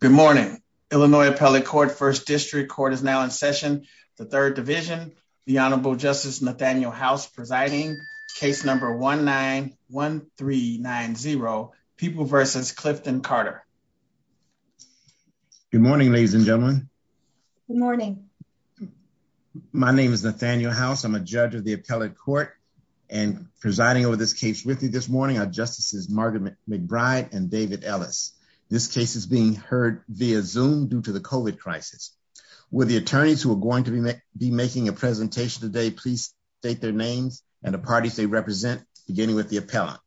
Good morning. Illinois Appellate Court First District Court is now in session. The Third Division, the Honorable Justice Nathaniel House presiding. Case number 1-9-1-3-9-0. People vs. Clifton Carter. Good morning, ladies and gentlemen. Good morning. My name is Nathaniel House. I'm a judge of the Appellate Court and presiding over this case with you this morning are Justices Margaret McBride and David Ellis. This case is being heard via Zoom due to the COVID crisis. Will the attorneys who are going to be making a presentation today please state their names and the parties they represent beginning with the appellant.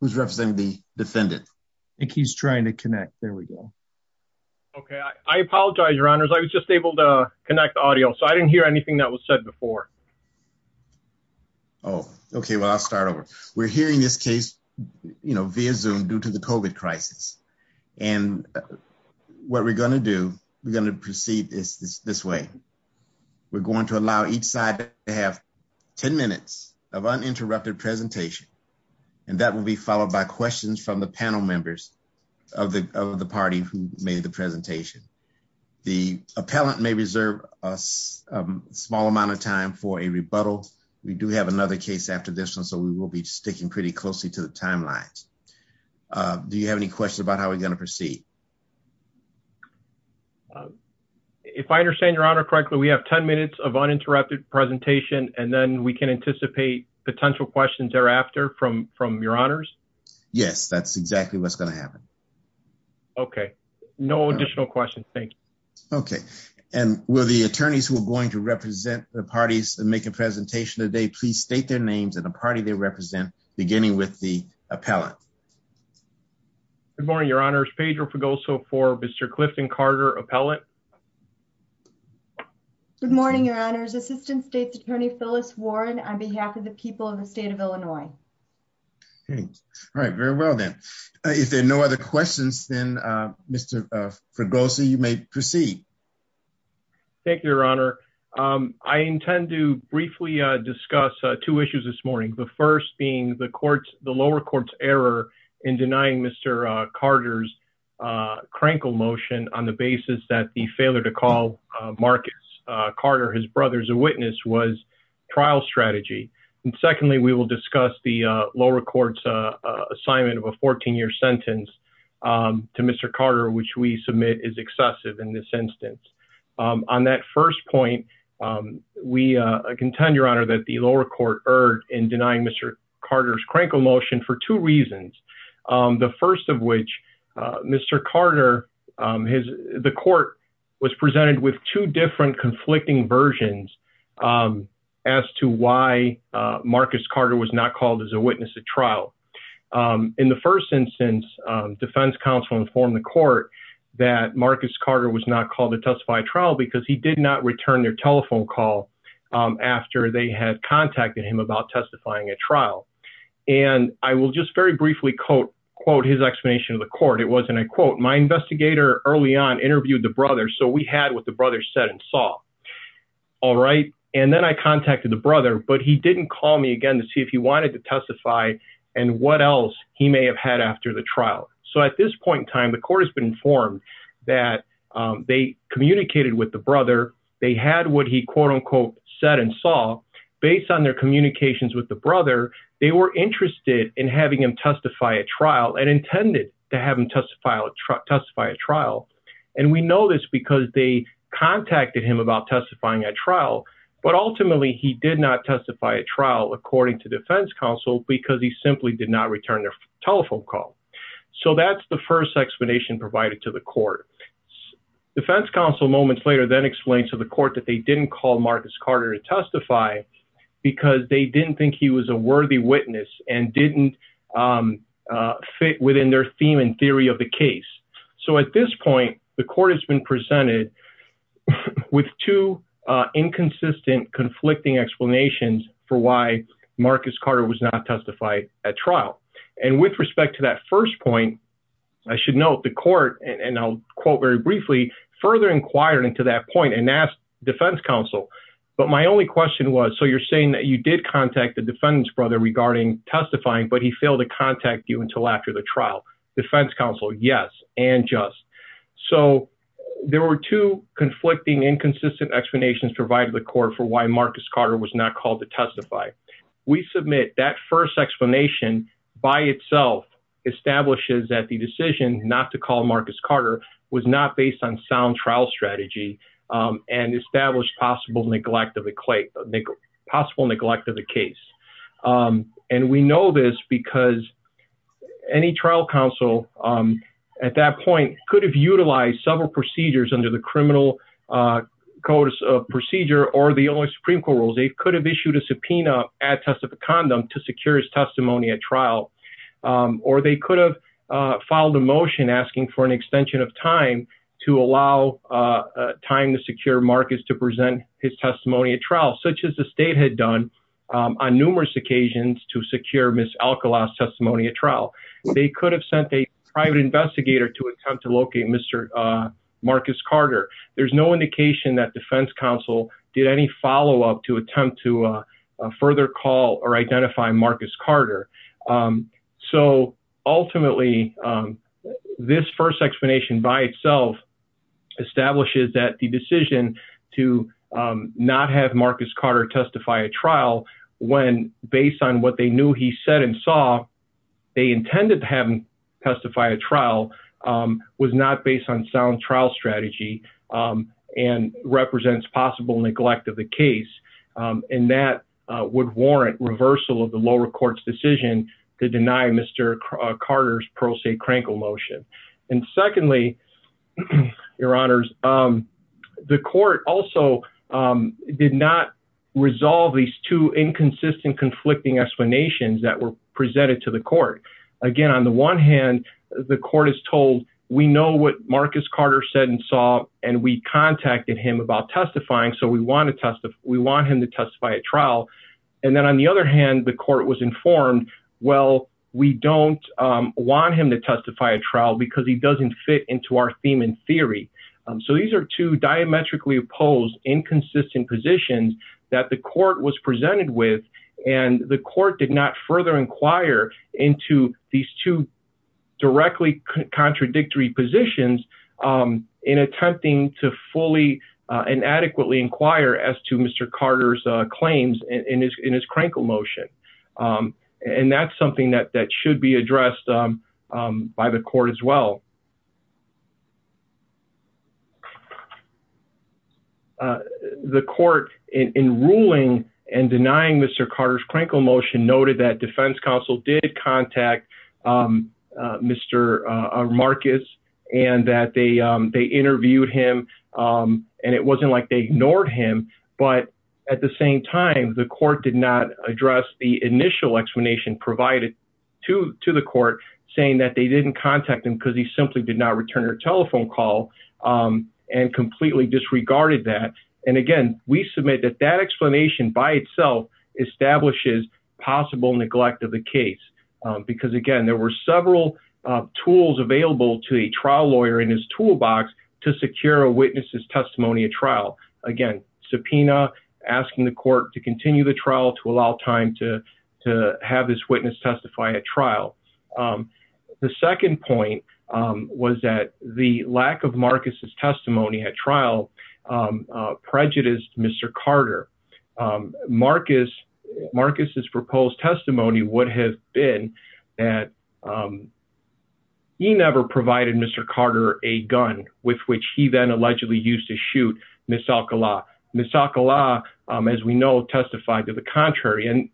Who's representing the defendant? I think he's trying to connect. There we go. Okay, I apologize, Your Honors. I was just able to connect the audio so I didn't hear anything that was said before. Oh, okay. Well, I'll start over. We're hearing this case, you know, via Zoom due to the COVID crisis and what we're going to do, we're going to proceed this this way. We're going to allow each side to have 10 minutes of uninterrupted presentation and that will be followed by questions from the panel members of the party who made the presentation. The small amount of time for a rebuttal. We do have another case after this one, so we will be sticking pretty closely to the timelines. Do you have any questions about how we're going to proceed? If I understand Your Honor correctly, we have 10 minutes of uninterrupted presentation and then we can anticipate potential questions thereafter from from Your Honors? Yes, that's exactly what's going to happen. Okay, no additional questions. Thank you. Okay, and will the attorneys who are going to represent the parties and make a presentation today, please state their names and the party they represent, beginning with the appellant. Good morning, Your Honors. Pedro Fregoso for Mr Clifton Carter Appellant. Good morning, Your Honors. Assistant State's Attorney Phyllis Warren on behalf of the people of the state of Illinois. Okay. All right. Very well then. If there are no other questions, then Mr Fregoso, you may proceed. Thank you, Your Honor. Um, I intend to briefly discuss two issues this morning. The first being the courts, the lower courts error in denying Mr Carter's crankle motion on the basis that the failure to call Marcus Carter his brother's a witness was trial strategy. And secondly, we will discuss the lower court's assignment of a 14 year sentence to Mr Carter, which we submit is excessive in this instance. Um, on that first point, um, we, uh, contend your honor that the lower court erred in denying Mr Carter's crankle motion for two reasons, um, the first of which, uh, Mr Carter, um, his, the court was presented with two different conflicting versions, um, as to why, uh, Marcus Carter was not called as a witness to trial. Um, in the first instance, um, defense counsel informed the court that Marcus Carter was not called to testify trial because he did not return their telephone call. Um, after they had contacted him about testifying at trial. And I will just very briefly quote, quote, his explanation of the court. It wasn't a quote. My investigator early on interviewed the brother. So we had what the brother said and saw. All right. And then I contacted the brother, but he didn't call me again to see if he wanted to testify and what else he may have had after the trial. So at this point in time, the court has been informed that, um, they communicated with the brother. They had what he quote unquote said and saw based on their communications with the brother. They were interested in having him testify at trial and intended to have him testify, testify at trial. And we know this because they contacted him about testifying at trial, but they didn't call the defense counsel because he simply did not return their telephone call. So that's the first explanation provided to the court. Defense counsel moments later then explained to the court that they didn't call Marcus Carter to testify because they didn't think he was a worthy witness and didn't, um, uh, fit within their theme and theory of the case. So at this point, the court has been presented with two, uh, inconsistent conflicting explanations for why Marcus Carter was not testified at trial. And with respect to that first point, I should note the court and I'll quote very briefly, further inquired into that point and asked defense counsel, but my only question was, so you're saying that you did contact the defendant's brother regarding testifying, but he failed to contact you until after the trial defense counsel. Yes. And just, so there were two conflicting inconsistent explanations provided the court for why Marcus Carter was not called to testify. We submit that first explanation by itself establishes that the decision not to call Marcus Carter was not based on sound trial strategy, um, and established possible neglect of a clay possible neglect of the case. Um, and we know this because any trial counsel, um, at that point could have utilized several procedures under the criminal, uh, codes of procedure or the only Supreme court rules. They could have issued a subpoena at test of a condom to secure his testimony at trial, um, or they could have, uh, filed a motion asking for an extension of time to allow, uh, uh, time to secure Marcus to present his testimony at trial, such as the state had done, um, on numerous occasions to secure Ms. Alcala's testimony at trial, they could have sent a private investigator to attempt to locate Mr. Uh, Marcus Carter. There's no indication that defense counsel did any follow-up to attempt to, uh, uh, further call or identify Marcus Carter. Um, so ultimately, um, this first explanation by itself. Establishes that the decision to, um, not have Marcus Carter testify at trial when based on what they knew, he said, and saw they intended to have him testify at trial. Um, was not based on sound trial strategy, um, and represents possible neglect of the case. Um, and that, uh, would warrant reversal of the lower court's decision to deny Mr. Carter's pro se crankle motion. And secondly, your honors, um, the court also, um, did not. Resolve these two inconsistent, conflicting explanations that were presented to the court. Again, on the one hand, the court is told, we know what Marcus Carter said and saw, and we contacted him about testifying, so we want to testify. We want him to testify at trial. And then on the other hand, the court was informed. Well, we don't, um, want him to testify at trial because he doesn't fit into our theme in theory. Um, so these are two diametrically opposed, inconsistent positions that the court was presented with. And the court did not further inquire into these two directly contradictory positions, um, in attempting to fully, uh, inadequately inquire as to Mr. Carter's, uh, claims in his, in his crankle motion. Um, and that's something that, that should be addressed, um, um, by the court as well. Uh, the court in, in ruling and denying Mr. Carter's crankle motion noted that defense counsel did contact, um, uh, Mr. uh, Marcus and that they, um, they interviewed him. Um, and it wasn't like they ignored him, but at the same time, the court did not address the initial explanation provided. To, to the court saying that they didn't contact him because he simply did not return her telephone call. Um, and completely disregarded that. And again, we submit that that explanation by itself establishes possible neglect of the case. Um, because again, there were several, uh, tools available to a trial lawyer in his toolbox to secure a witness's testimony at trial. Again, subpoena asking the court to continue the trial to allow time to, to have this witness testify at trial. Um, the second point, um, was that the lack of Marcus's testimony at trial, um, uh, prejudiced Mr. Carter, um, Marcus Marcus's proposed testimony would have been that. Um, he never provided Mr. Carter a gun with which he then allegedly used to shoot Ms. Alcala, Ms. Alcala, um, as we know, testified to the contrary and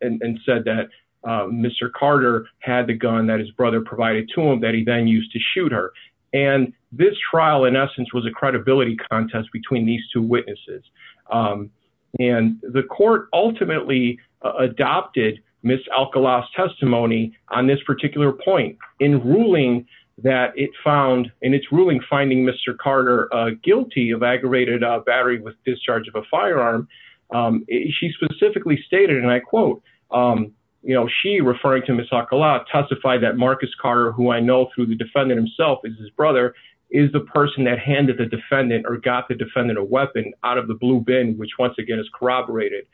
said that, uh, Mr. Carter had the gun that his brother provided to him that he then used to shoot her and this trial in essence was a credibility contest between these two witnesses. Um, and the court ultimately adopted Ms. Alcala testimony on this particular point in ruling that it found in its ruling, finding Mr. Carter, uh, guilty of aggravated battery with discharge of a firearm. Um, she specifically stated, and I quote, um, you know, she referring to Ms. Alcala testified that Marcus Carter, who I know through the defendant himself is his brother is the person that handed the defendant or got the defendant, a weapon out of the blue bin, which once again is corroborated.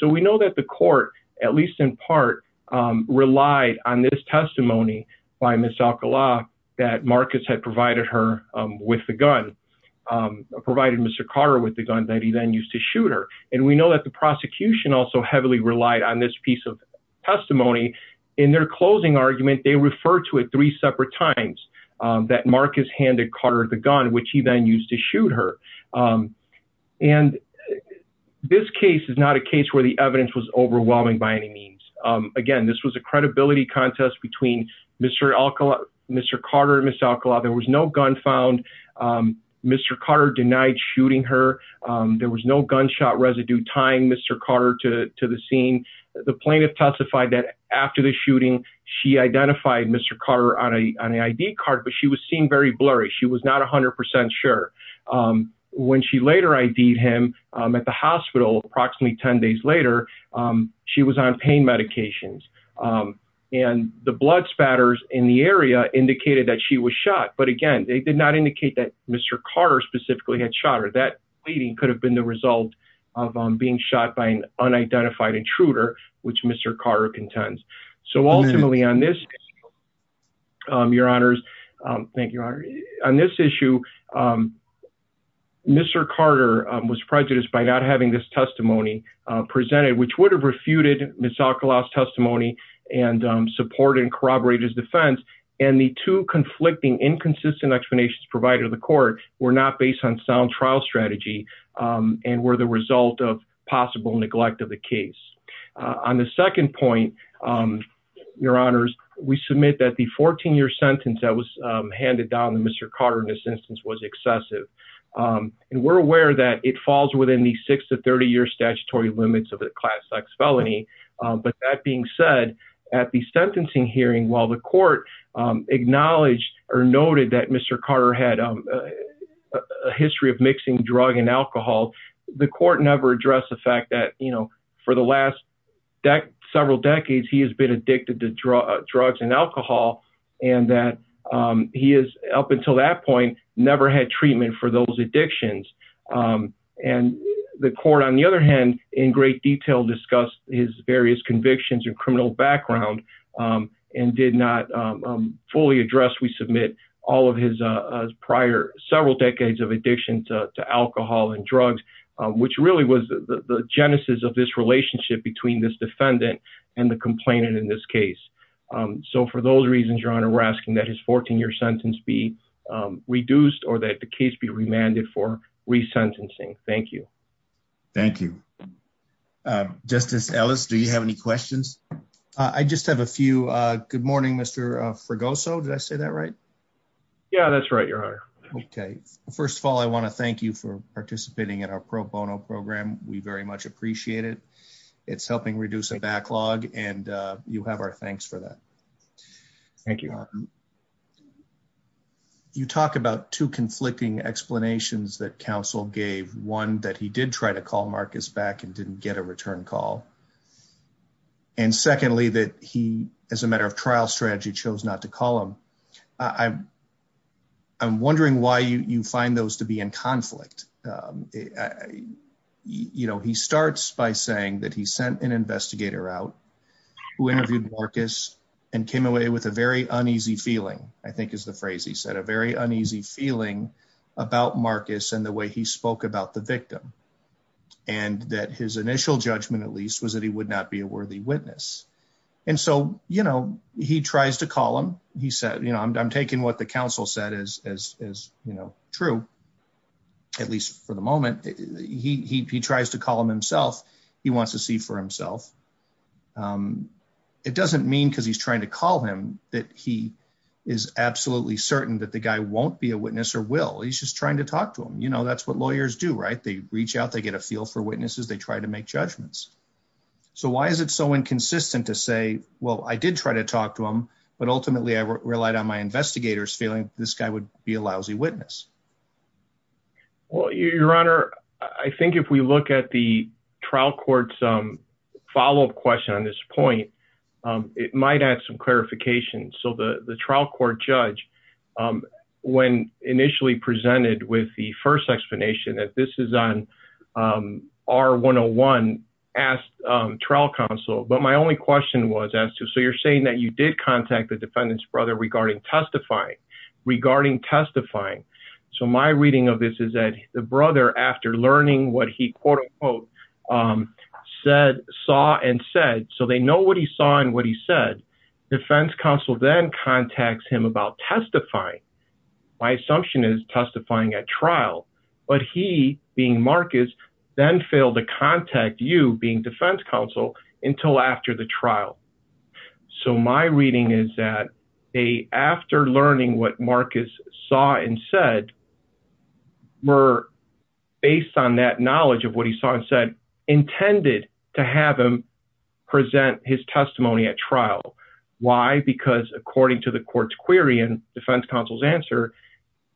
So we know that the court, at least in part, um, relied on this testimony by Ms. Alcala that Marcus had provided her, um, with the gun, um, provided Mr. Carter with the gun that he then used to shoot her. And we know that the prosecution also heavily relied on this piece of. Testimony in their closing argument, they refer to it three separate times, um, that Marcus handed Carter the gun, which he then used to shoot her. Um, and this case is not a case where the evidence was overwhelming by any means. Um, again, this was a credibility contest between Mr. Alcala, Mr. Carter, Ms. Alcala, there was no gun found. Um, Mr. Carter denied shooting her. Um, there was no gunshot residue time, Mr. Carter to, to the scene. The plaintiff testified that after the shooting, she identified Mr. Carter on a, on an ID card, but she was seen very blurry. She was not a hundred percent. Sure. Um, when she later ID him, um, at the hospital, approximately 10 days later, um, she was on pain medications. Um, and the blood spatters in the area indicated that she was shot. But again, they did not indicate that Mr. Carter specifically had shot her. Leading could have been the result of, um, being shot by an unidentified intruder, which Mr. Carter contends. So ultimately on this, um, your honors, um, thank you. Honor on this issue. Um, Mr. Carter, um, was prejudiced by not having this testimony, uh, presented, which would have refuted Ms. Alcala's testimony and, um, support and corroborate his defense. And the two conflicting inconsistent explanations provided to the court were not based on sound trial strategy. Um, and were the result of possible neglect of the case, uh, on the second point, um, your honors, we submit that the 14 year sentence that was, um, handed down to Mr. Carter in this instance was excessive. Um, and we're aware that it falls within the six to 30 year statutory limits of the class X felony. Um, but that being said at the sentencing hearing, while the court, um, a history of mixing drug and alcohol, the court never addressed the fact that, you know, for the last several decades, he has been addicted to drugs and alcohol and that, um, he is up until that point, never had treatment for those addictions, um, and the court on the other hand, in great detail, discussed his various convictions and criminal background, um, and did not, um, fully addressed. We submit all of his, uh, his prior several decades of addiction to alcohol and drugs, um, which really was the genesis of this relationship between this defendant and the complainant in this case. Um, so for those reasons, your honor, we're asking that his 14 year sentence be, um, reduced or that the case be remanded for resentencing. Thank you. Thank you. Uh, justice Ellis, do you have any questions? Uh, I just have a few, uh, good morning, Mr. Uh, for go. So did I say that right? Yeah, that's right. Your honor. Okay. First of all, I want to thank you for participating in our pro bono program. We very much appreciate it. It's helping reduce a backlog and, uh, you have our thanks for that. Thank you. You talk about two conflicting explanations that council gave one that he did try to call Marcus back and didn't get a return call. And secondly, that he, as a matter of trial strategy, chose not to call him. I I'm wondering why you, you find those to be in conflict. Um, you know, he starts by saying that he sent an investigator out who interviewed Marcus and came away with a very uneasy feeling, I think is the phrase he said, a very uneasy feeling about Marcus and the way he spoke about the victim and that his initial judgment at least was that he would not be a worthy witness. And so, you know, he tries to call him. He said, you know, I'm, I'm taking what the council said as, as, as, you know, true, at least for the moment, he, he, he tries to call him himself. He wants to see for himself. Um, it doesn't mean, cause he's trying to call him that he is absolutely certain that the guy won't be a witness or will, he's just trying to talk to him. You know, that's what lawyers do, right? They reach out, they get a feel for witnesses. They try to make judgments. So why is it so inconsistent to say, well, I did try to talk to him, but ultimately I relied on my investigators feeling this guy would be a lousy witness. Well, your honor, I think if we look at the trial courts, um, follow up question on this point, um, it might add some clarification. So the trial court judge, um, when initially presented with the first explanation that this is on, um, our one-on-one asked, um, trial counsel. But my only question was as to, so you're saying that you did contact the defendant's brother regarding testifying regarding testifying. So my reading of this is that the brother, after learning what he quote unquote, um, said, saw and said, so they know what he saw and what he said. Defense counsel then contacts him about testifying. My assumption is testifying at trial, but he being Marcus then failed to contact you being defense counsel until after the trial. So my reading is that they, after learning what Marcus saw and said, were based on that knowledge of what he saw and said, intended to have him present his testimony at trial. Why? Because according to the court's query and defense counsel's answer,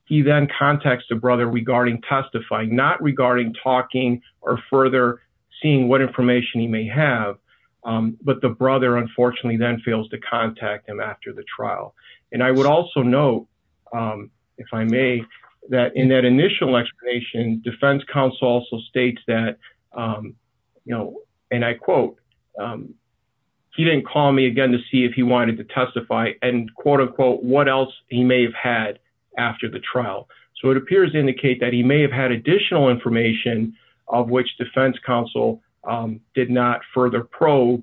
he then contacts the brother regarding testifying, not regarding talking or further seeing what information he may have. Um, but the brother, unfortunately then fails to contact him after the trial. And I would also know, um, if I may, that in that initial explanation, defense counsel also states that, um, you know, and I quote, um, He didn't call me again to see if he wanted to testify and quote unquote, what else he may have had after the trial. So it appears to indicate that he may have had additional information of which defense counsel, um, did not further probe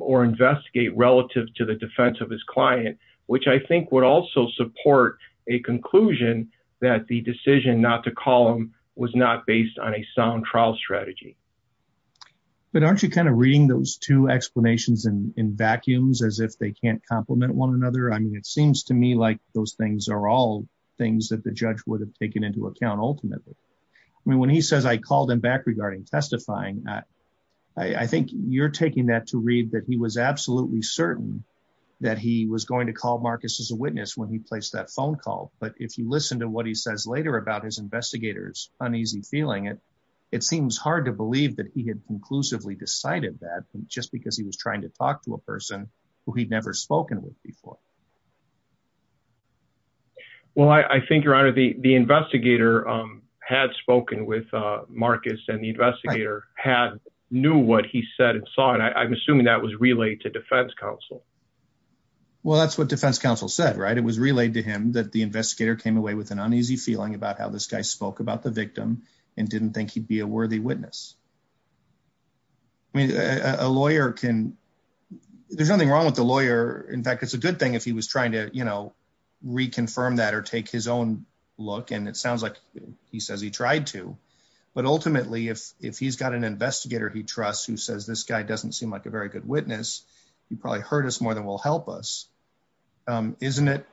or investigate relative to the defense of his client, which I think would also support a conclusion that the decision not to call him was not based on a sound trial strategy. But aren't you kind of reading those two explanations in, in vacuums as if they can't compliment one another? I mean, it seems to me like those things are all things that the judge would have taken into account ultimately. I mean, when he says I called him back regarding testifying, I, I think you're taking that to read that he was absolutely certain that he was going to call Marcus as a witness when he placed that phone call. But if you listen to what he says later about his investigators, uneasy feeling it seems hard to believe that he had conclusively decided that just because he was trying to talk to a person who he'd never spoken with before. Well, I think your honor, the, the investigator, um, had spoken with, uh, Marcus and the investigator had knew what he said and saw, and I'm assuming that was relayed to defense counsel. Well, that's what defense counsel said, right? It was relayed to him that the investigator came away with an uneasy feeling about how this guy spoke about the victim and didn't think he'd be a worthy witness. I mean, a lawyer can, there's nothing wrong with the lawyer. In fact, it's a good thing if he was trying to, you know, reconfirm that or take his own look. And it sounds like he says he tried to, but ultimately if, if he's got an investigator, he trusts who says, this guy doesn't seem like a very good witness. He probably hurt us more than we'll help us. Um, isn't it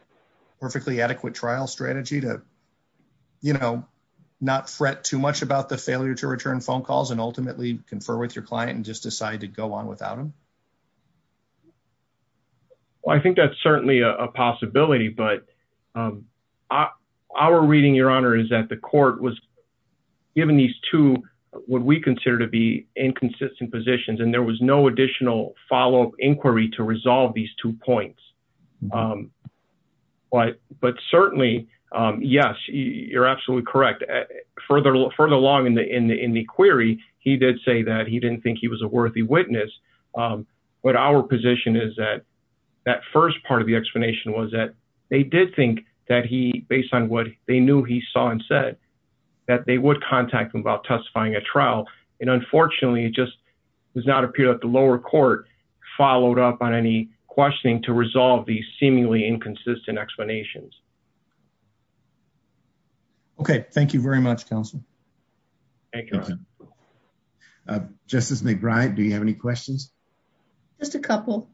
perfectly adequate trial strategy to, you know, not fret too much about the failure to return phone calls and ultimately confer with your client and just decide to go on without him. Well, I think that's certainly a possibility, but, um, uh, our reading, your honor, is that the court was given these two, what we consider to be inconsistent positions. And there was no additional follow up inquiry to resolve these two points. Um, but, but certainly, um, yes, you're absolutely correct. Further, further along in the, in the, in the query, he did say that he didn't think he was a worthy witness. Um, but our position is that. That first part of the explanation was that they did think that he, based on what they knew, he saw and said that they would contact him about testifying at trial and unfortunately it just does not appear that the lower court followed up on any questioning to resolve these seemingly inconsistent explanations. Okay. Thank you very much. Counsel. Thank you. Justice McBride. Do you have any questions? Just a couple.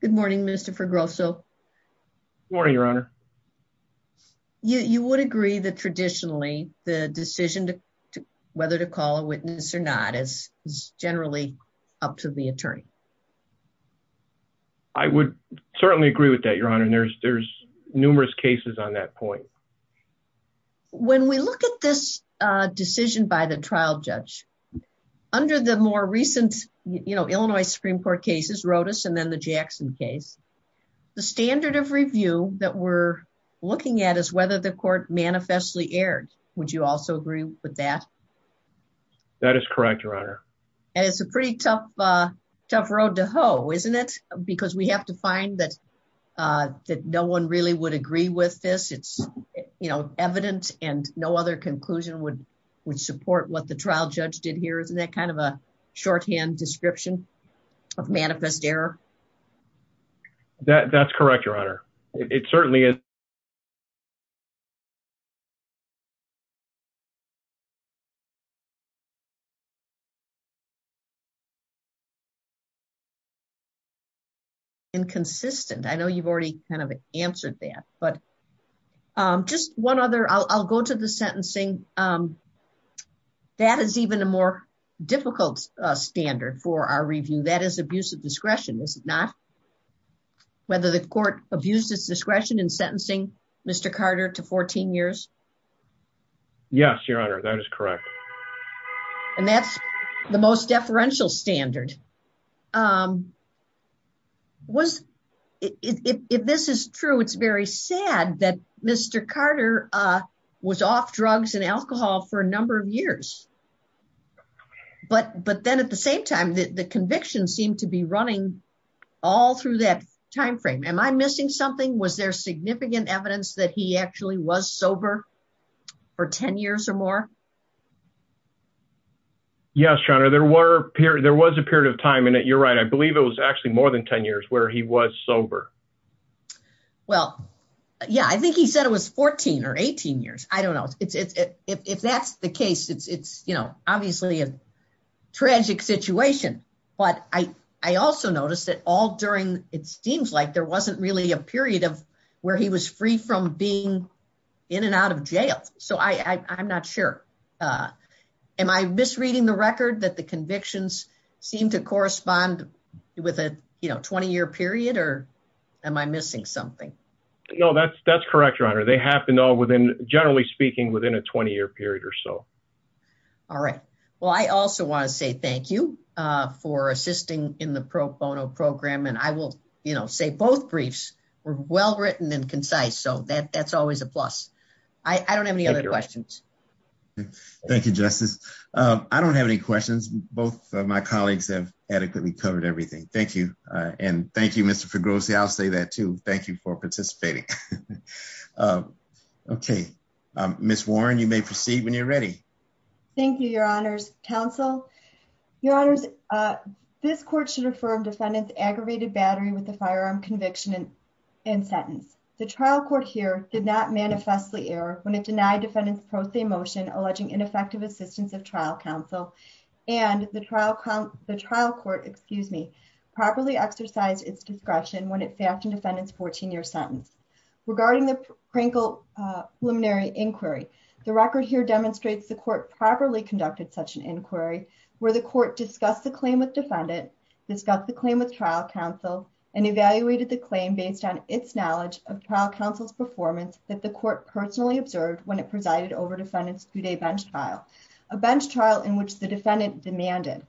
Good morning, minister for growth. So morning, your honor. You, you would agree that traditionally the decision to whether to call a attorney, I would certainly agree with that. Your honor. And there's, there's numerous cases on that point. When we look at this decision by the trial judge under the more recent, you know, Illinois Supreme court cases wrote us and then the Jackson case, the standard of review that we're looking at is whether the court manifestly aired. That is correct. Your honor. And it's a pretty tough, uh, tough road to hoe, isn't it? Because we have to find that, uh, that no one really would agree with this. It's, you know, evidence and no other conclusion would, would support what the trial judge did here. Isn't that kind of a shorthand description of manifest error? That that's correct. Your honor. It certainly is. I know you've already kind of answered that, but, um, just one other I'll, I'll go to the sentencing, um, that is even a more difficult standard for our review. That is abuse of discretion. Is it not? Whether the court abused its discretion in sentencing, Mr. Carter to 14 years. Yes, your honor. That is correct. And that's the most important thing. Most deferential standard. Um, was it, if this is true, it's very sad that Mr. Carter, uh, was off drugs and alcohol for a number of years, but, but then at the same time, the conviction seemed to be running all through that timeframe. Am I missing something? Was there significant evidence that he actually was sober for 10 years or more? Yes, your honor. There were periods, there was a period of time in it. You're right. I believe it was actually more than 10 years where he was sober. Well, yeah, I think he said it was 14 or 18 years. I don't know if that's the case. It's, it's, you know, obviously a tragic situation, but I, I also noticed that all during, it seems like there wasn't really a period of where he was free from being in and out of jail. So I, I, I'm not sure. Uh, am I misreading the record that the convictions seem to correspond with a 20 year period or am I missing something? No, that's, that's correct. Your honor. They have to know within generally speaking within a 20 year period or so. All right. Well, I also want to say thank you, uh, for assisting in the pro bono program. And I will say both briefs were well-written and concise. So that that's always a plus. I don't have any other questions. Thank you, justice. Um, I don't have any questions. Both of my colleagues have adequately covered everything. Thank you. Uh, and thank you, Mr. Figueroa. See, I'll say that too. Thank you for participating. Uh, okay. Um, Ms. Warren, you may proceed when you're ready. Thank you, your honors council, your honors. Uh, this court should affirm defendant's aggravated battery with the firearm conviction and sentence. The trial court here did not manifest the error when it denied defendants pro se motion, alleging ineffective assistance of trial counsel and the trial count, the trial court, excuse me, properly exercised its discretion. When it fastened defendants, 14 year sentence regarding the Prinkle, uh, preliminary inquiry. The record here demonstrates the court properly conducted such an inquiry where the court discussed the claim with defendant, discussed the claim with trial counsel and evaluated the claim based on its knowledge of trial counsel's performance that the court personally observed when it presided over defendants through day bench trial, a bench trial in which the defendant demanded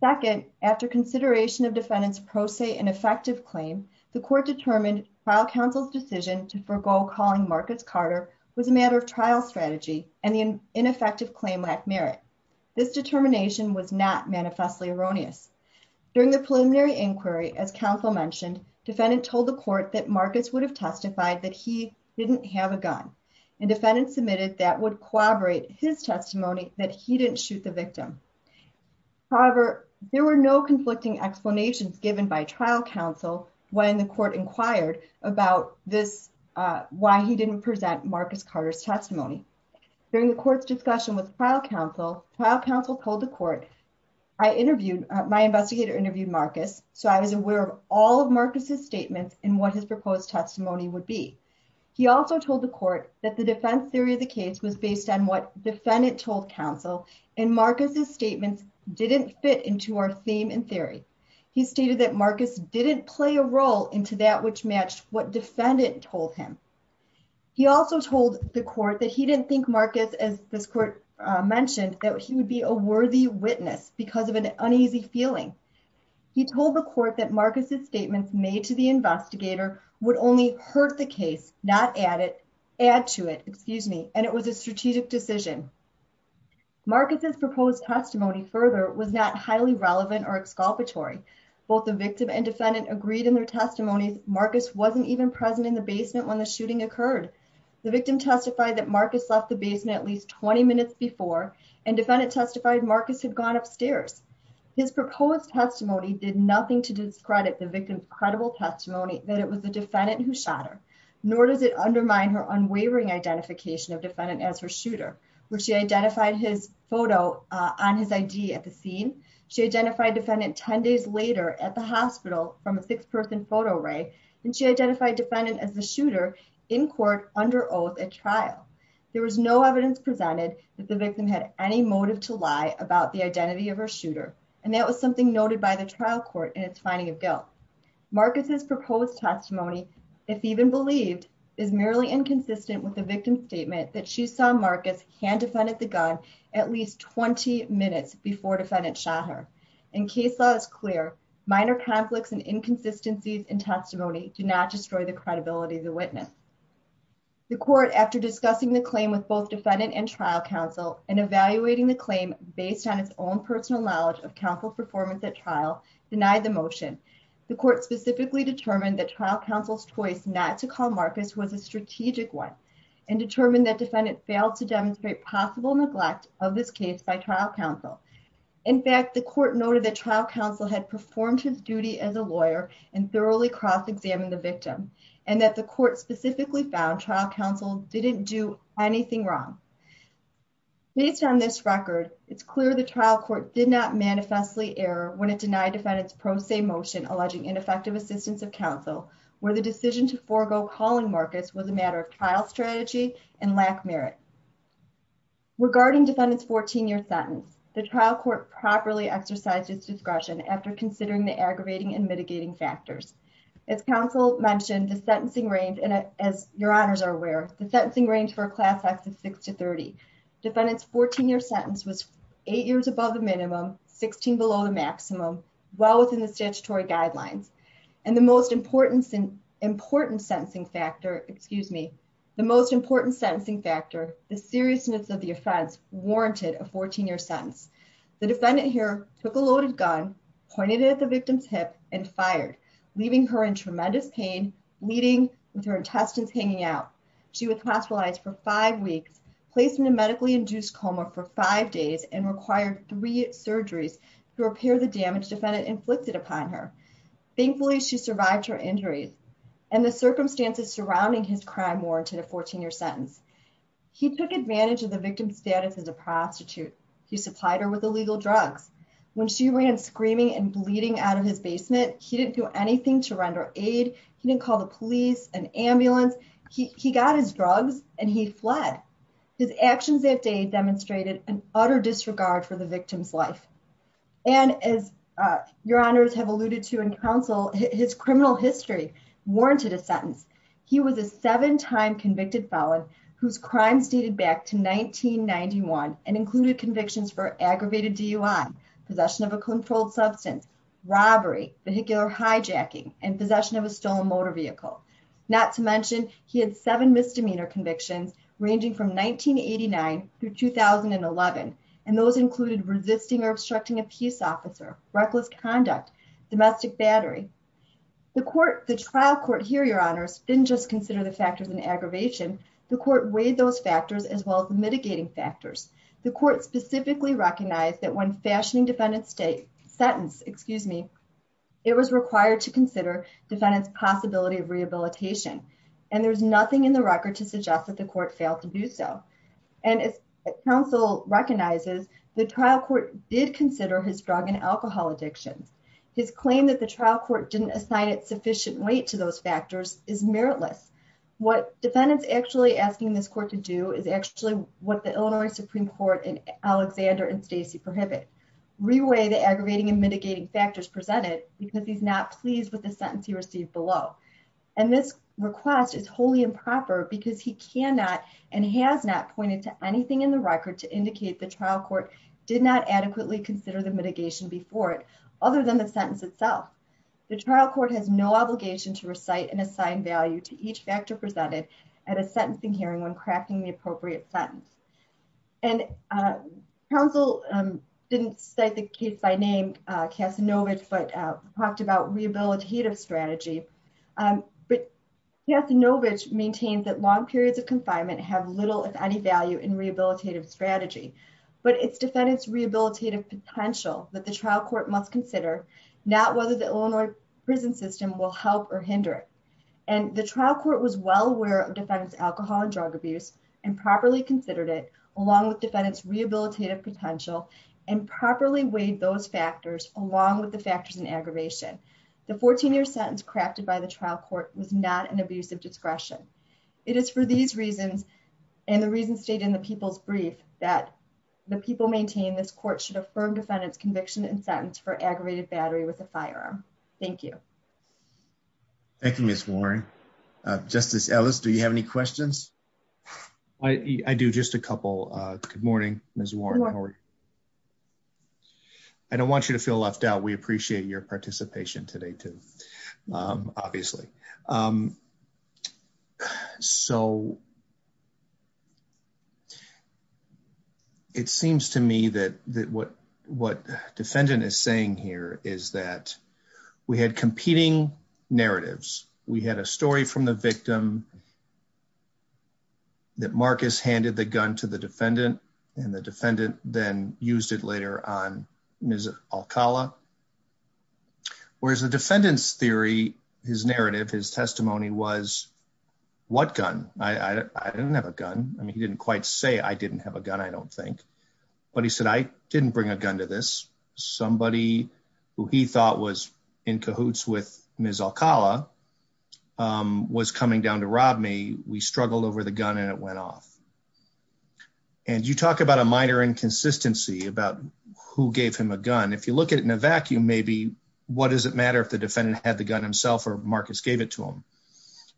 second after consideration of defendants pro se and effective claim. The court determined trial counsel's decision to forgo calling markets Carter was a matter of trial strategy and the ineffective claim lack merit. This determination was not manifestly erroneous during the preliminary inquiry, as counsel mentioned, defendant told the court that markets would have testified that he didn't have a gun and defendants submitted that would collaborate his testimony that he didn't shoot the victim. However, there were no conflicting explanations given by trial counsel when the court inquired about this, uh, why he didn't present Marcus Carter's testimony during the court's discussion with trial counsel, trial counsel told the court, I interviewed my investigator interviewed Marcus. So I was aware of all of Marcus's statements and what his proposed testimony would be. He also told the court that the defense theory of the case was based on what defendant told counsel and Marcus's statements didn't fit into our theme and theory. He stated that Marcus didn't play a role into that, which matched what defendant told him. He also told the court that he didn't think markets as this court mentioned that he would be a worthy witness because of an uneasy feeling. He told the court that Marcus's statements made to the investigator would only hurt the case, not add it, add to it, excuse me. And it was a strategic decision. Marcus's proposed testimony further was not highly relevant or exculpatory. Both the victim and defendant agreed in their testimonies. Marcus wasn't even present in the basement. When the shooting occurred, the victim testified that Marcus left the basement at least 20 minutes before and defendant testified, Marcus had gone upstairs. His proposed testimony did nothing to discredit the victim's credible testimony that it was the defendant who shot her, nor does it undermine her unwavering identification of defendant as her shooter, where she identified his photo on his ID at the scene. She identified defendant 10 days later at the hospital from a six person photo ray. And she identified defendant as the shooter in court under oath at trial. There was no evidence presented that the victim had any motive to lie about the identity of her shooter. And that was something noted by the trial court in its finding of guilt. Marcus's proposed testimony, if even believed, is merely inconsistent with the victim's statement that she saw Marcus hand defended the gun at least 20 minutes before defendant shot her. In case law is clear, minor conflicts and inconsistencies in testimony do not destroy the credibility of the witness. The court, after discussing the claim with both defendant and trial counsel and evaluating the claim based on its own personal knowledge of counsel performance at trial, denied the motion. The court specifically determined that trial counsel's choice not to call Marcus was a strategic one and determined that defendant failed to demonstrate possible neglect of this case by trial counsel. In fact, the court noted that trial counsel had performed his duty as a lawyer and that the court specifically found trial counsel didn't do anything wrong. Based on this record, it's clear the trial court did not manifestly error when it denied defendant's pro se motion alleging ineffective assistance of counsel, where the decision to forego calling Marcus was a matter of trial strategy and lack merit. Regarding defendant's 14 year sentence, the trial court properly exercised its discretion after considering the aggravating and mitigating factors. As counsel mentioned, the sentencing range, and as your honors are aware, the sentencing range for a class acts of six to 30 defendants, 14 year sentence was eight years above the minimum 16 below the maximum well within the statutory guidelines and the most important sentence, important sentencing factor. Excuse me. The most important sentencing factor, the seriousness of the offense warranted a 14 year sentence. The defendant here took a loaded gun, pointed it at the victim's hip and fired. Leaving her in tremendous pain, bleeding with her intestines hanging out. She was hospitalized for five weeks, placed in a medically induced coma for five days and required three surgeries to repair the damage defendant inflicted upon her. Thankfully, she survived her injuries and the circumstances surrounding his crime warranted a 14 year sentence. He took advantage of the victim's status as a prostitute. He supplied her with illegal drugs. When she ran screaming and bleeding out of his basement, he didn't do anything to render aid. He didn't call the police and ambulance. He got his drugs and he fled. His actions that day demonstrated an utter disregard for the victim's life. And as your honors have alluded to in counsel, his criminal history warranted a sentence. He was a seven time convicted felon whose crimes dated back to 1991 and included convictions for aggravated DUI. Possession of a controlled substance, robbery, vehicular hijacking and possession of a stolen motor vehicle. Not to mention he had seven misdemeanor convictions ranging from 1989 through 2011. And those included resisting or obstructing a peace officer, reckless conduct, domestic battery. The court, the trial court here, your honors didn't just consider the factors in aggravation. The court weighed those factors as well as the mitigating factors. The court specifically recognized that when fashioning defendant state sentence, excuse me, it was required to consider defendant's possibility of rehabilitation. And there's nothing in the record to suggest that the court failed to do so. And as counsel recognizes, the trial court did consider his drug and alcohol addictions. His claim that the trial court didn't assign it sufficient weight to those factors is meritless. What defendant's actually asking this court to do is actually what the Illinois Supreme court in Alexander and Stacey prohibit. Reweigh the aggravating and mitigating factors presented because he's not pleased with the sentence he received below. And this request is wholly improper because he cannot and has not pointed to anything in the record to indicate the trial court did not adequately consider the mitigation before it, other than the sentence itself. The trial court has no obligation to recite and assign value to each factor presented at a sentencing hearing when crafting the appropriate sentence. And, uh, counsel, um, didn't say the case by name, uh, Casanova, but, uh, talked about rehabilitative strategy. Um, but yes, Novich maintained that long periods of confinement have little, if any value in rehabilitative strategy, but it's defendants rehabilitative potential that the trial court must consider now, whether the Illinois prison system will help or hinder it. And the trial court was well aware of defense alcohol and drug abuse and properly considered it along with defendants rehabilitative potential and properly weighed those factors along with the factors in aggravation. The 14 year sentence crafted by the trial court was not an abusive discretion. It is for these reasons. And the reason stayed in the people's brief that the people maintain this court should affirm defendants conviction and sentence for aggravated battery with a firearm. Thank you. Thank you, Ms. Warren, uh, justice Ellis. Do you have any questions? I, I do just a couple, uh, good morning, Ms. Warren. I don't want you to feel left out. We appreciate your participation today too. Um, obviously. Um, so it seems to me that, that what, what defendant is saying here is that we had competing narratives. We had a story from the victim that Marcus handed the gun to the defendant and the defendant then used it later on Ms. Alcala, whereas the defendant's theory, his narrative, his testimony was what gun? I, I, I didn't have a gun. I mean, he didn't quite say I didn't have a gun. I don't think, but he said, I didn't bring a gun to this. Somebody who he thought was in cahoots with Ms. Alcala, um, was coming down to rob me. We struggled over the gun and it went off. And you talk about a minor inconsistency about who gave him a gun. If you look at it in a vacuum, maybe what does it matter if the defendant had the gun himself or Marcus gave it to him?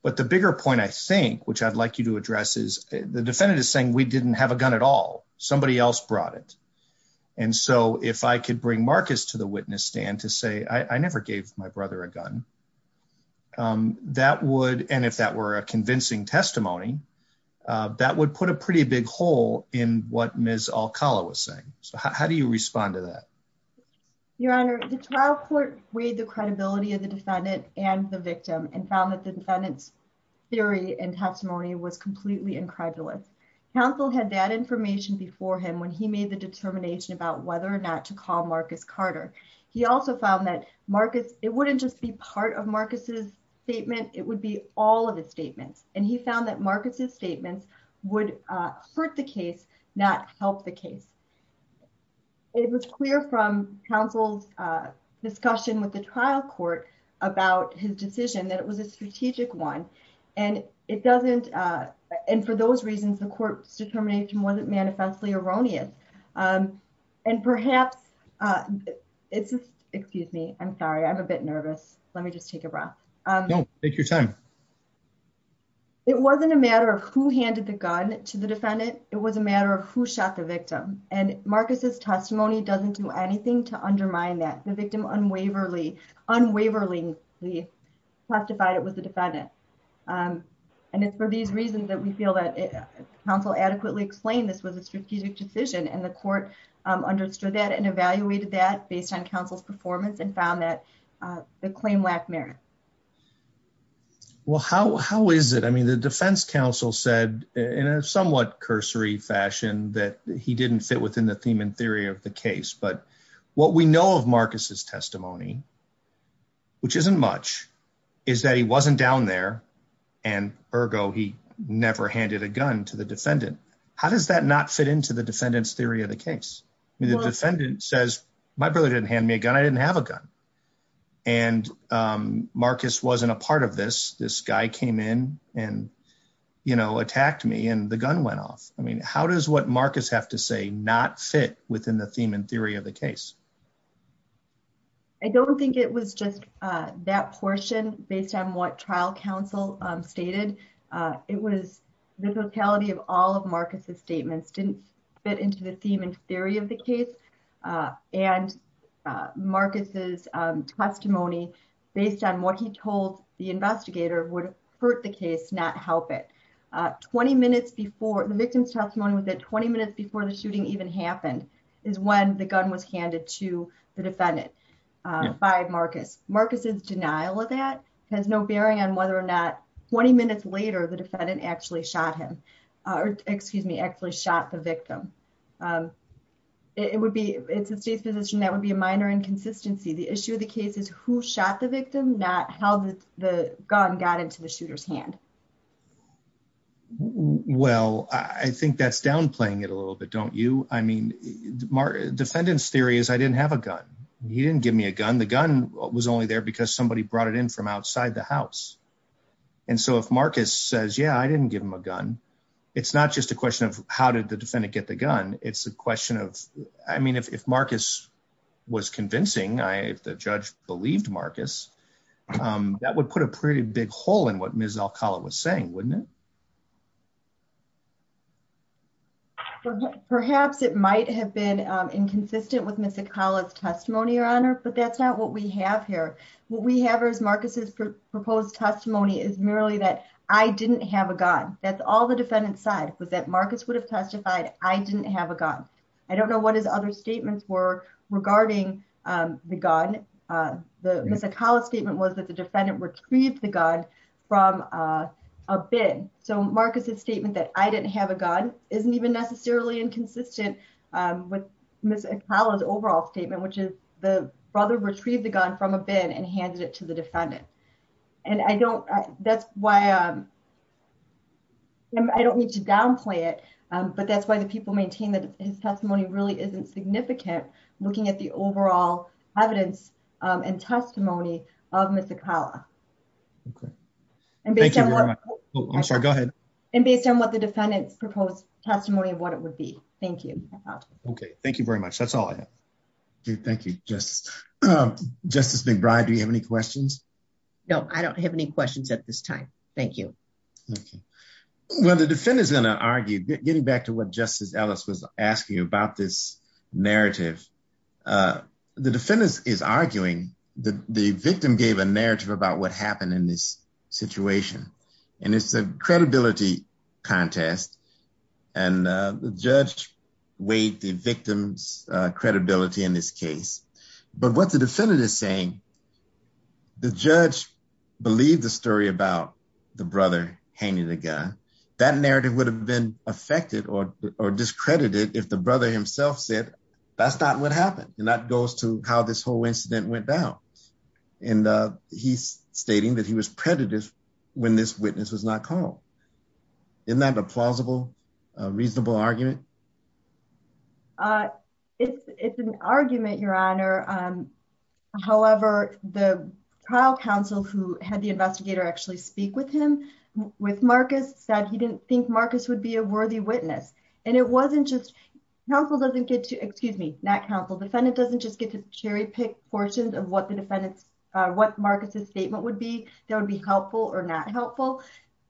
But the bigger point I think, which I'd like you to address is the defendant is saying we didn't have a gun at all. Somebody else brought it. And so if I could bring Marcus to the witness stand to say, I never gave my brother a gun, um, that would, and if that were a convincing testimony, uh, that would put a pretty big hole in what Ms. Alcala was saying. So how do you respond to that? Your Honor, the trial court weighed the credibility of the defendant and the victim and found that the defendant's theory and testimony was completely incredulous. Counsel had that information before him when he made the determination about whether or not to call Marcus Carter. He also found that Marcus, it wouldn't just be part of Marcus's statement. It would be all of his statements. And he found that Marcus's statements would hurt the case, not help the case. It was clear from counsel's discussion with the trial court about his decision that it was a strategic one. And it doesn't, uh, and for those reasons, the court's determination wasn't manifestly erroneous. Um, and perhaps, uh, it's just, excuse me. I'm sorry. I'm a bit nervous. Let me just take a breath. Um, it wasn't a matter of who handed the gun to the defendant. It was a matter of who shot the victim. And Marcus's testimony doesn't do anything to undermine that the victim unwaverly unwaverly we testified it was the defendant. Um, and it's for these reasons that we feel that counsel adequately explained this was a strategic decision. And the court, um, understood that and evaluated that based on counsel's performance and found that, uh, the claim lack merit. Well, how, how is it? I mean, the defense counsel said in a somewhat cursory fashion that he didn't fit within the theme and theory of the case, but what we know of Marcus's and ergo, he never handed a gun to the defendant. How does that not fit into the defendant's theory of the case? I mean, the defendant says my brother didn't hand me a gun. I didn't have a gun. And, um, Marcus wasn't a part of this. This guy came in and, you know, attacked me and the gun went off. I mean, how does what Marcus have to say not fit within the theme and theory of the case? I don't think it was just, uh, that portion based on what trial counsel, um, stated, uh, it was the totality of all of Marcus's statements didn't fit into the theme and theory of the case. Uh, and, uh, Marcus's, um, testimony based on what he told the investigator would hurt the case, not help it, uh, 20 minutes before the victim's testimony was that 20 minutes before the shooting even happened is when the gun was handed to the defendant. Um, by Marcus, Marcus's denial of that has no bearing on whether or not 20 minutes later, the defendant actually shot him, uh, or excuse me, actually shot the victim. Um, it would be, it's a state's position. That would be a minor inconsistency. The issue of the case is who shot the victim, not how the gun got into the shooter's hand. Well, I think that's downplaying it a little bit. Don't you? I mean, Mark defendant's theory is I didn't have a gun. He didn't give me a gun. The gun was only there because somebody brought it in from outside the house. And so if Marcus says, yeah, I didn't give him a gun. It's not just a question of how did the defendant get the gun? It's a question of, I mean, if, if Marcus was convincing, I, if the judge believed Marcus, um, that would put a pretty big hole in what Ms. Alcala was saying, wouldn't it? Perhaps it might have been, um, inconsistent with Ms. Alcala's testimony, your honor, but that's not what we have here. What we have is Marcus's proposed testimony is merely that I didn't have a gun. That's all the defendant side was that Marcus would have testified I didn't have a gun. I don't know what his other statements were regarding, um, the gun. Uh, the Ms. Alcala statement was that the defendant retrieved the gun from, uh, a bid. So Marcus's statement that I didn't have a gun isn't even necessarily inconsistent, um, with Ms. Alcala's overall statement, which is the brother retrieved the gun from a bid and handed it to the defendant. And I don't, that's why, um, I don't need to downplay it. Um, but that's why the people maintain that his testimony really isn't significant looking at the overall evidence, um, and testimony of Ms. Alcala. Okay. And based on what the defendant's proposed testimony of what it would be. Thank you. Okay. Thank you very much. That's all I have. Okay. Thank you. Just, um, justice McBride. Do you have any questions? No, I don't have any questions at this time. Thank you. Okay. Well, the defendant's going to argue getting back to what justice Ellis was asking you about this narrative. Uh, the defendants is arguing that the victim gave a narrative about what happened in this situation. And it's a credibility contest and, uh, the judge weighed the victim's, uh, credibility in this case. But what the defendant is saying, the judge believed the story about the brother handing the gun. That narrative would have been affected or discredited if the brother himself said that's not what happened. And that goes to how this whole incident went down. And, uh, he's stating that he was predictive when this witness was not called. Isn't that a plausible, reasonable argument? Uh, it's, it's an argument, your honor. Um, however, the trial counsel who had the investigator actually speak with him with Marcus said he didn't think Marcus would be a worthy witness and it wasn't just helpful, doesn't get to, excuse me, not counsel defendant. Doesn't just get to cherry pick portions of what the defendants, uh, what Marcus's statement would be, that would be helpful or not helpful.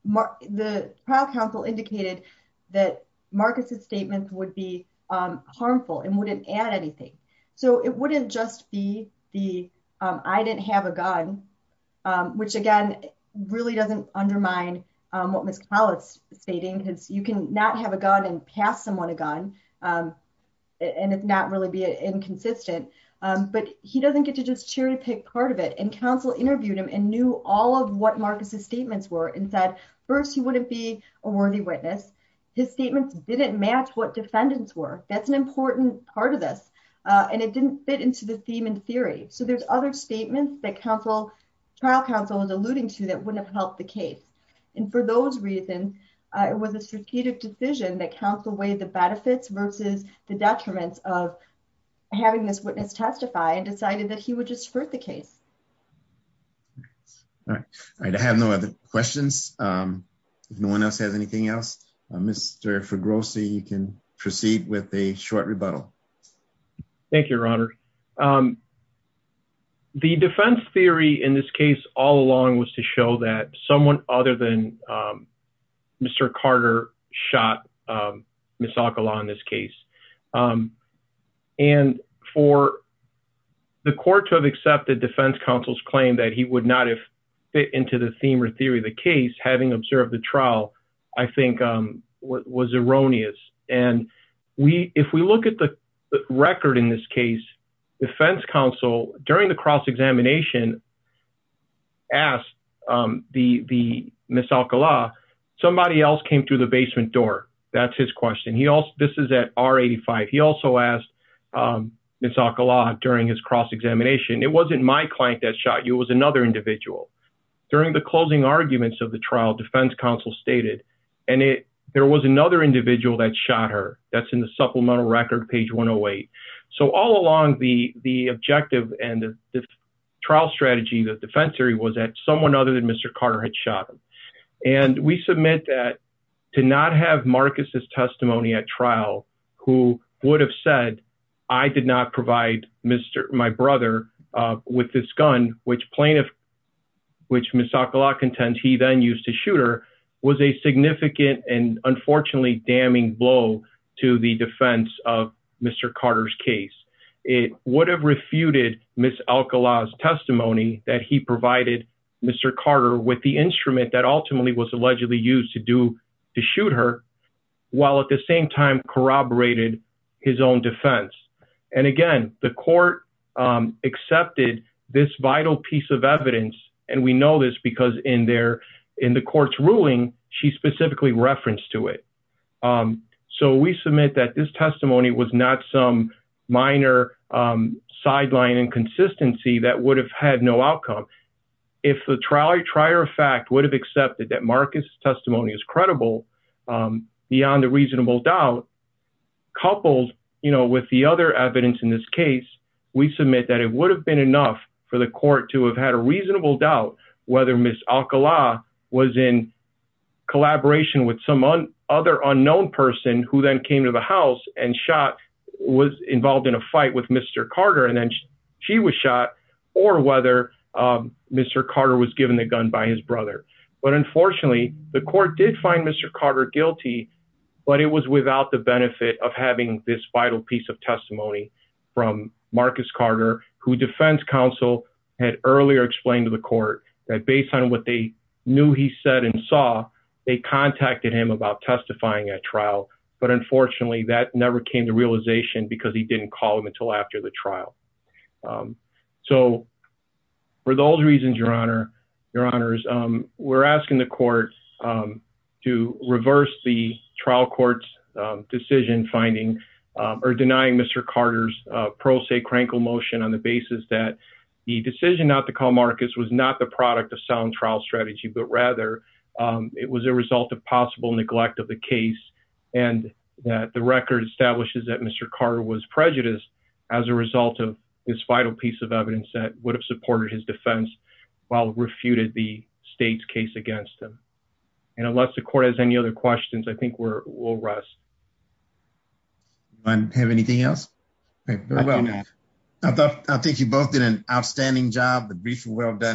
Mark the trial counsel indicated that Marcus's statements would be, um, harmful and wouldn't add anything. So it wouldn't just be the, um, I didn't have a gun. Um, which again, really doesn't undermine, um, what Ms. Stating because you can not have a gun and pass someone a gun. Um, and it's not really be inconsistent. Um, but he doesn't get to just cherry pick part of it. And counsel interviewed him and knew all of what Marcus's statements were and said, first, he wouldn't be a worthy witness. His statements didn't match what defendants were. That's an important part of this. Uh, and it didn't fit into the theme and theory. So there's other statements that counsel trial counsel is alluding to that wouldn't have helped the case. And for those reasons, uh, it was a strategic decision that counsel weighed the benefits versus the detriments of having this witness testify and decided that he would just hurt the case. All right. All right. I have no other questions. Um, if no one else has anything else, uh, Mr. For grossly, you can proceed with a short rebuttal. Thank you, your honor. Um, the defense theory in this case all along was to show that someone other than, um, Mr. Carter shot, um, Ms. Alcala on this case. Um, and for the court to have accepted defense counsel's claim that he would not have fit into the theme or theory of the case, having observed the trial. I think, um, what was erroneous and we, if we look at the record in this case, defense counsel during the cross-examination asked, um, the, the Ms. Alcala, somebody else came through the basement door. That's his question. He also, this is at R 85. He also asked, um, Ms. Alcala during his cross-examination. It wasn't my client that shot you. It was another individual. During the closing arguments of the trial defense counsel stated, and it, there was another individual that shot her that's in the supplemental record page 108. So all along the, the objective and the trial strategy, the defense theory was that someone other than Mr. Carter had shot him and we submit that. To not have Marcus's testimony at trial, who would have said I did not provide Mr. My brother, uh, with this gun, which plaintiff, which Ms. Alcala contends he then used to shoot her was a significant and unfortunately damning blow to the defense of Mr. Carter's case. It would have refuted Ms. Alcala's testimony that he provided Mr. Carter with the instrument that ultimately was allegedly used to do. To shoot her while at the same time corroborated his own defense. And again, the court, um, accepted this vital piece of evidence. And we know this because in there, in the court's ruling, she specifically referenced to it. Um, so we submit that this testimony was not some minor, um, sideline inconsistency that would have had no outcome if the trial, I try or fact would have accepted that Marcus testimony is credible, um, beyond a reasonable doubt, coupled, you know, with the other evidence in this case, we submit that it would have been enough for the court to have had a reasonable doubt whether Ms. Alcala was in collaboration with some other unknown person who then came to the house and shot was involved in a fight with Mr. Carter, and then she was shot or whether, um, Mr. Carter was given the gun by his brother. But unfortunately the court did find Mr. Carter guilty, but it was without the benefit of having this vital piece of testimony from Marcus Carter, who defense counsel had earlier explained to the court that based on what they knew he said and saw, they contacted him about testifying at trial. But unfortunately that never came to realization because he didn't call him until after the trial. Um, so for those reasons, your honor, your honors, um, we're asking the court, um, to reverse the trial courts, um, decision finding, um, or denying Mr. Carter's, uh, pro se crankle motion on the basis that the decision not to call Marcus was not the product of sound trial strategy, but rather, um, it was a result of possible neglect of the case and that the record establishes that Mr. Carter was prejudiced as a result of this vital piece of evidence that would have supported his defense while refuted the state's case against him. And unless the court has any other questions, I think we're, we'll rest. I don't have anything else. Okay. Well done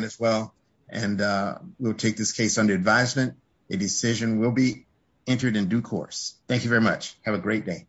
as well. And, uh, we'll take this case under advisement. A decision will be entered in due course. Thank you very much. Have a great day.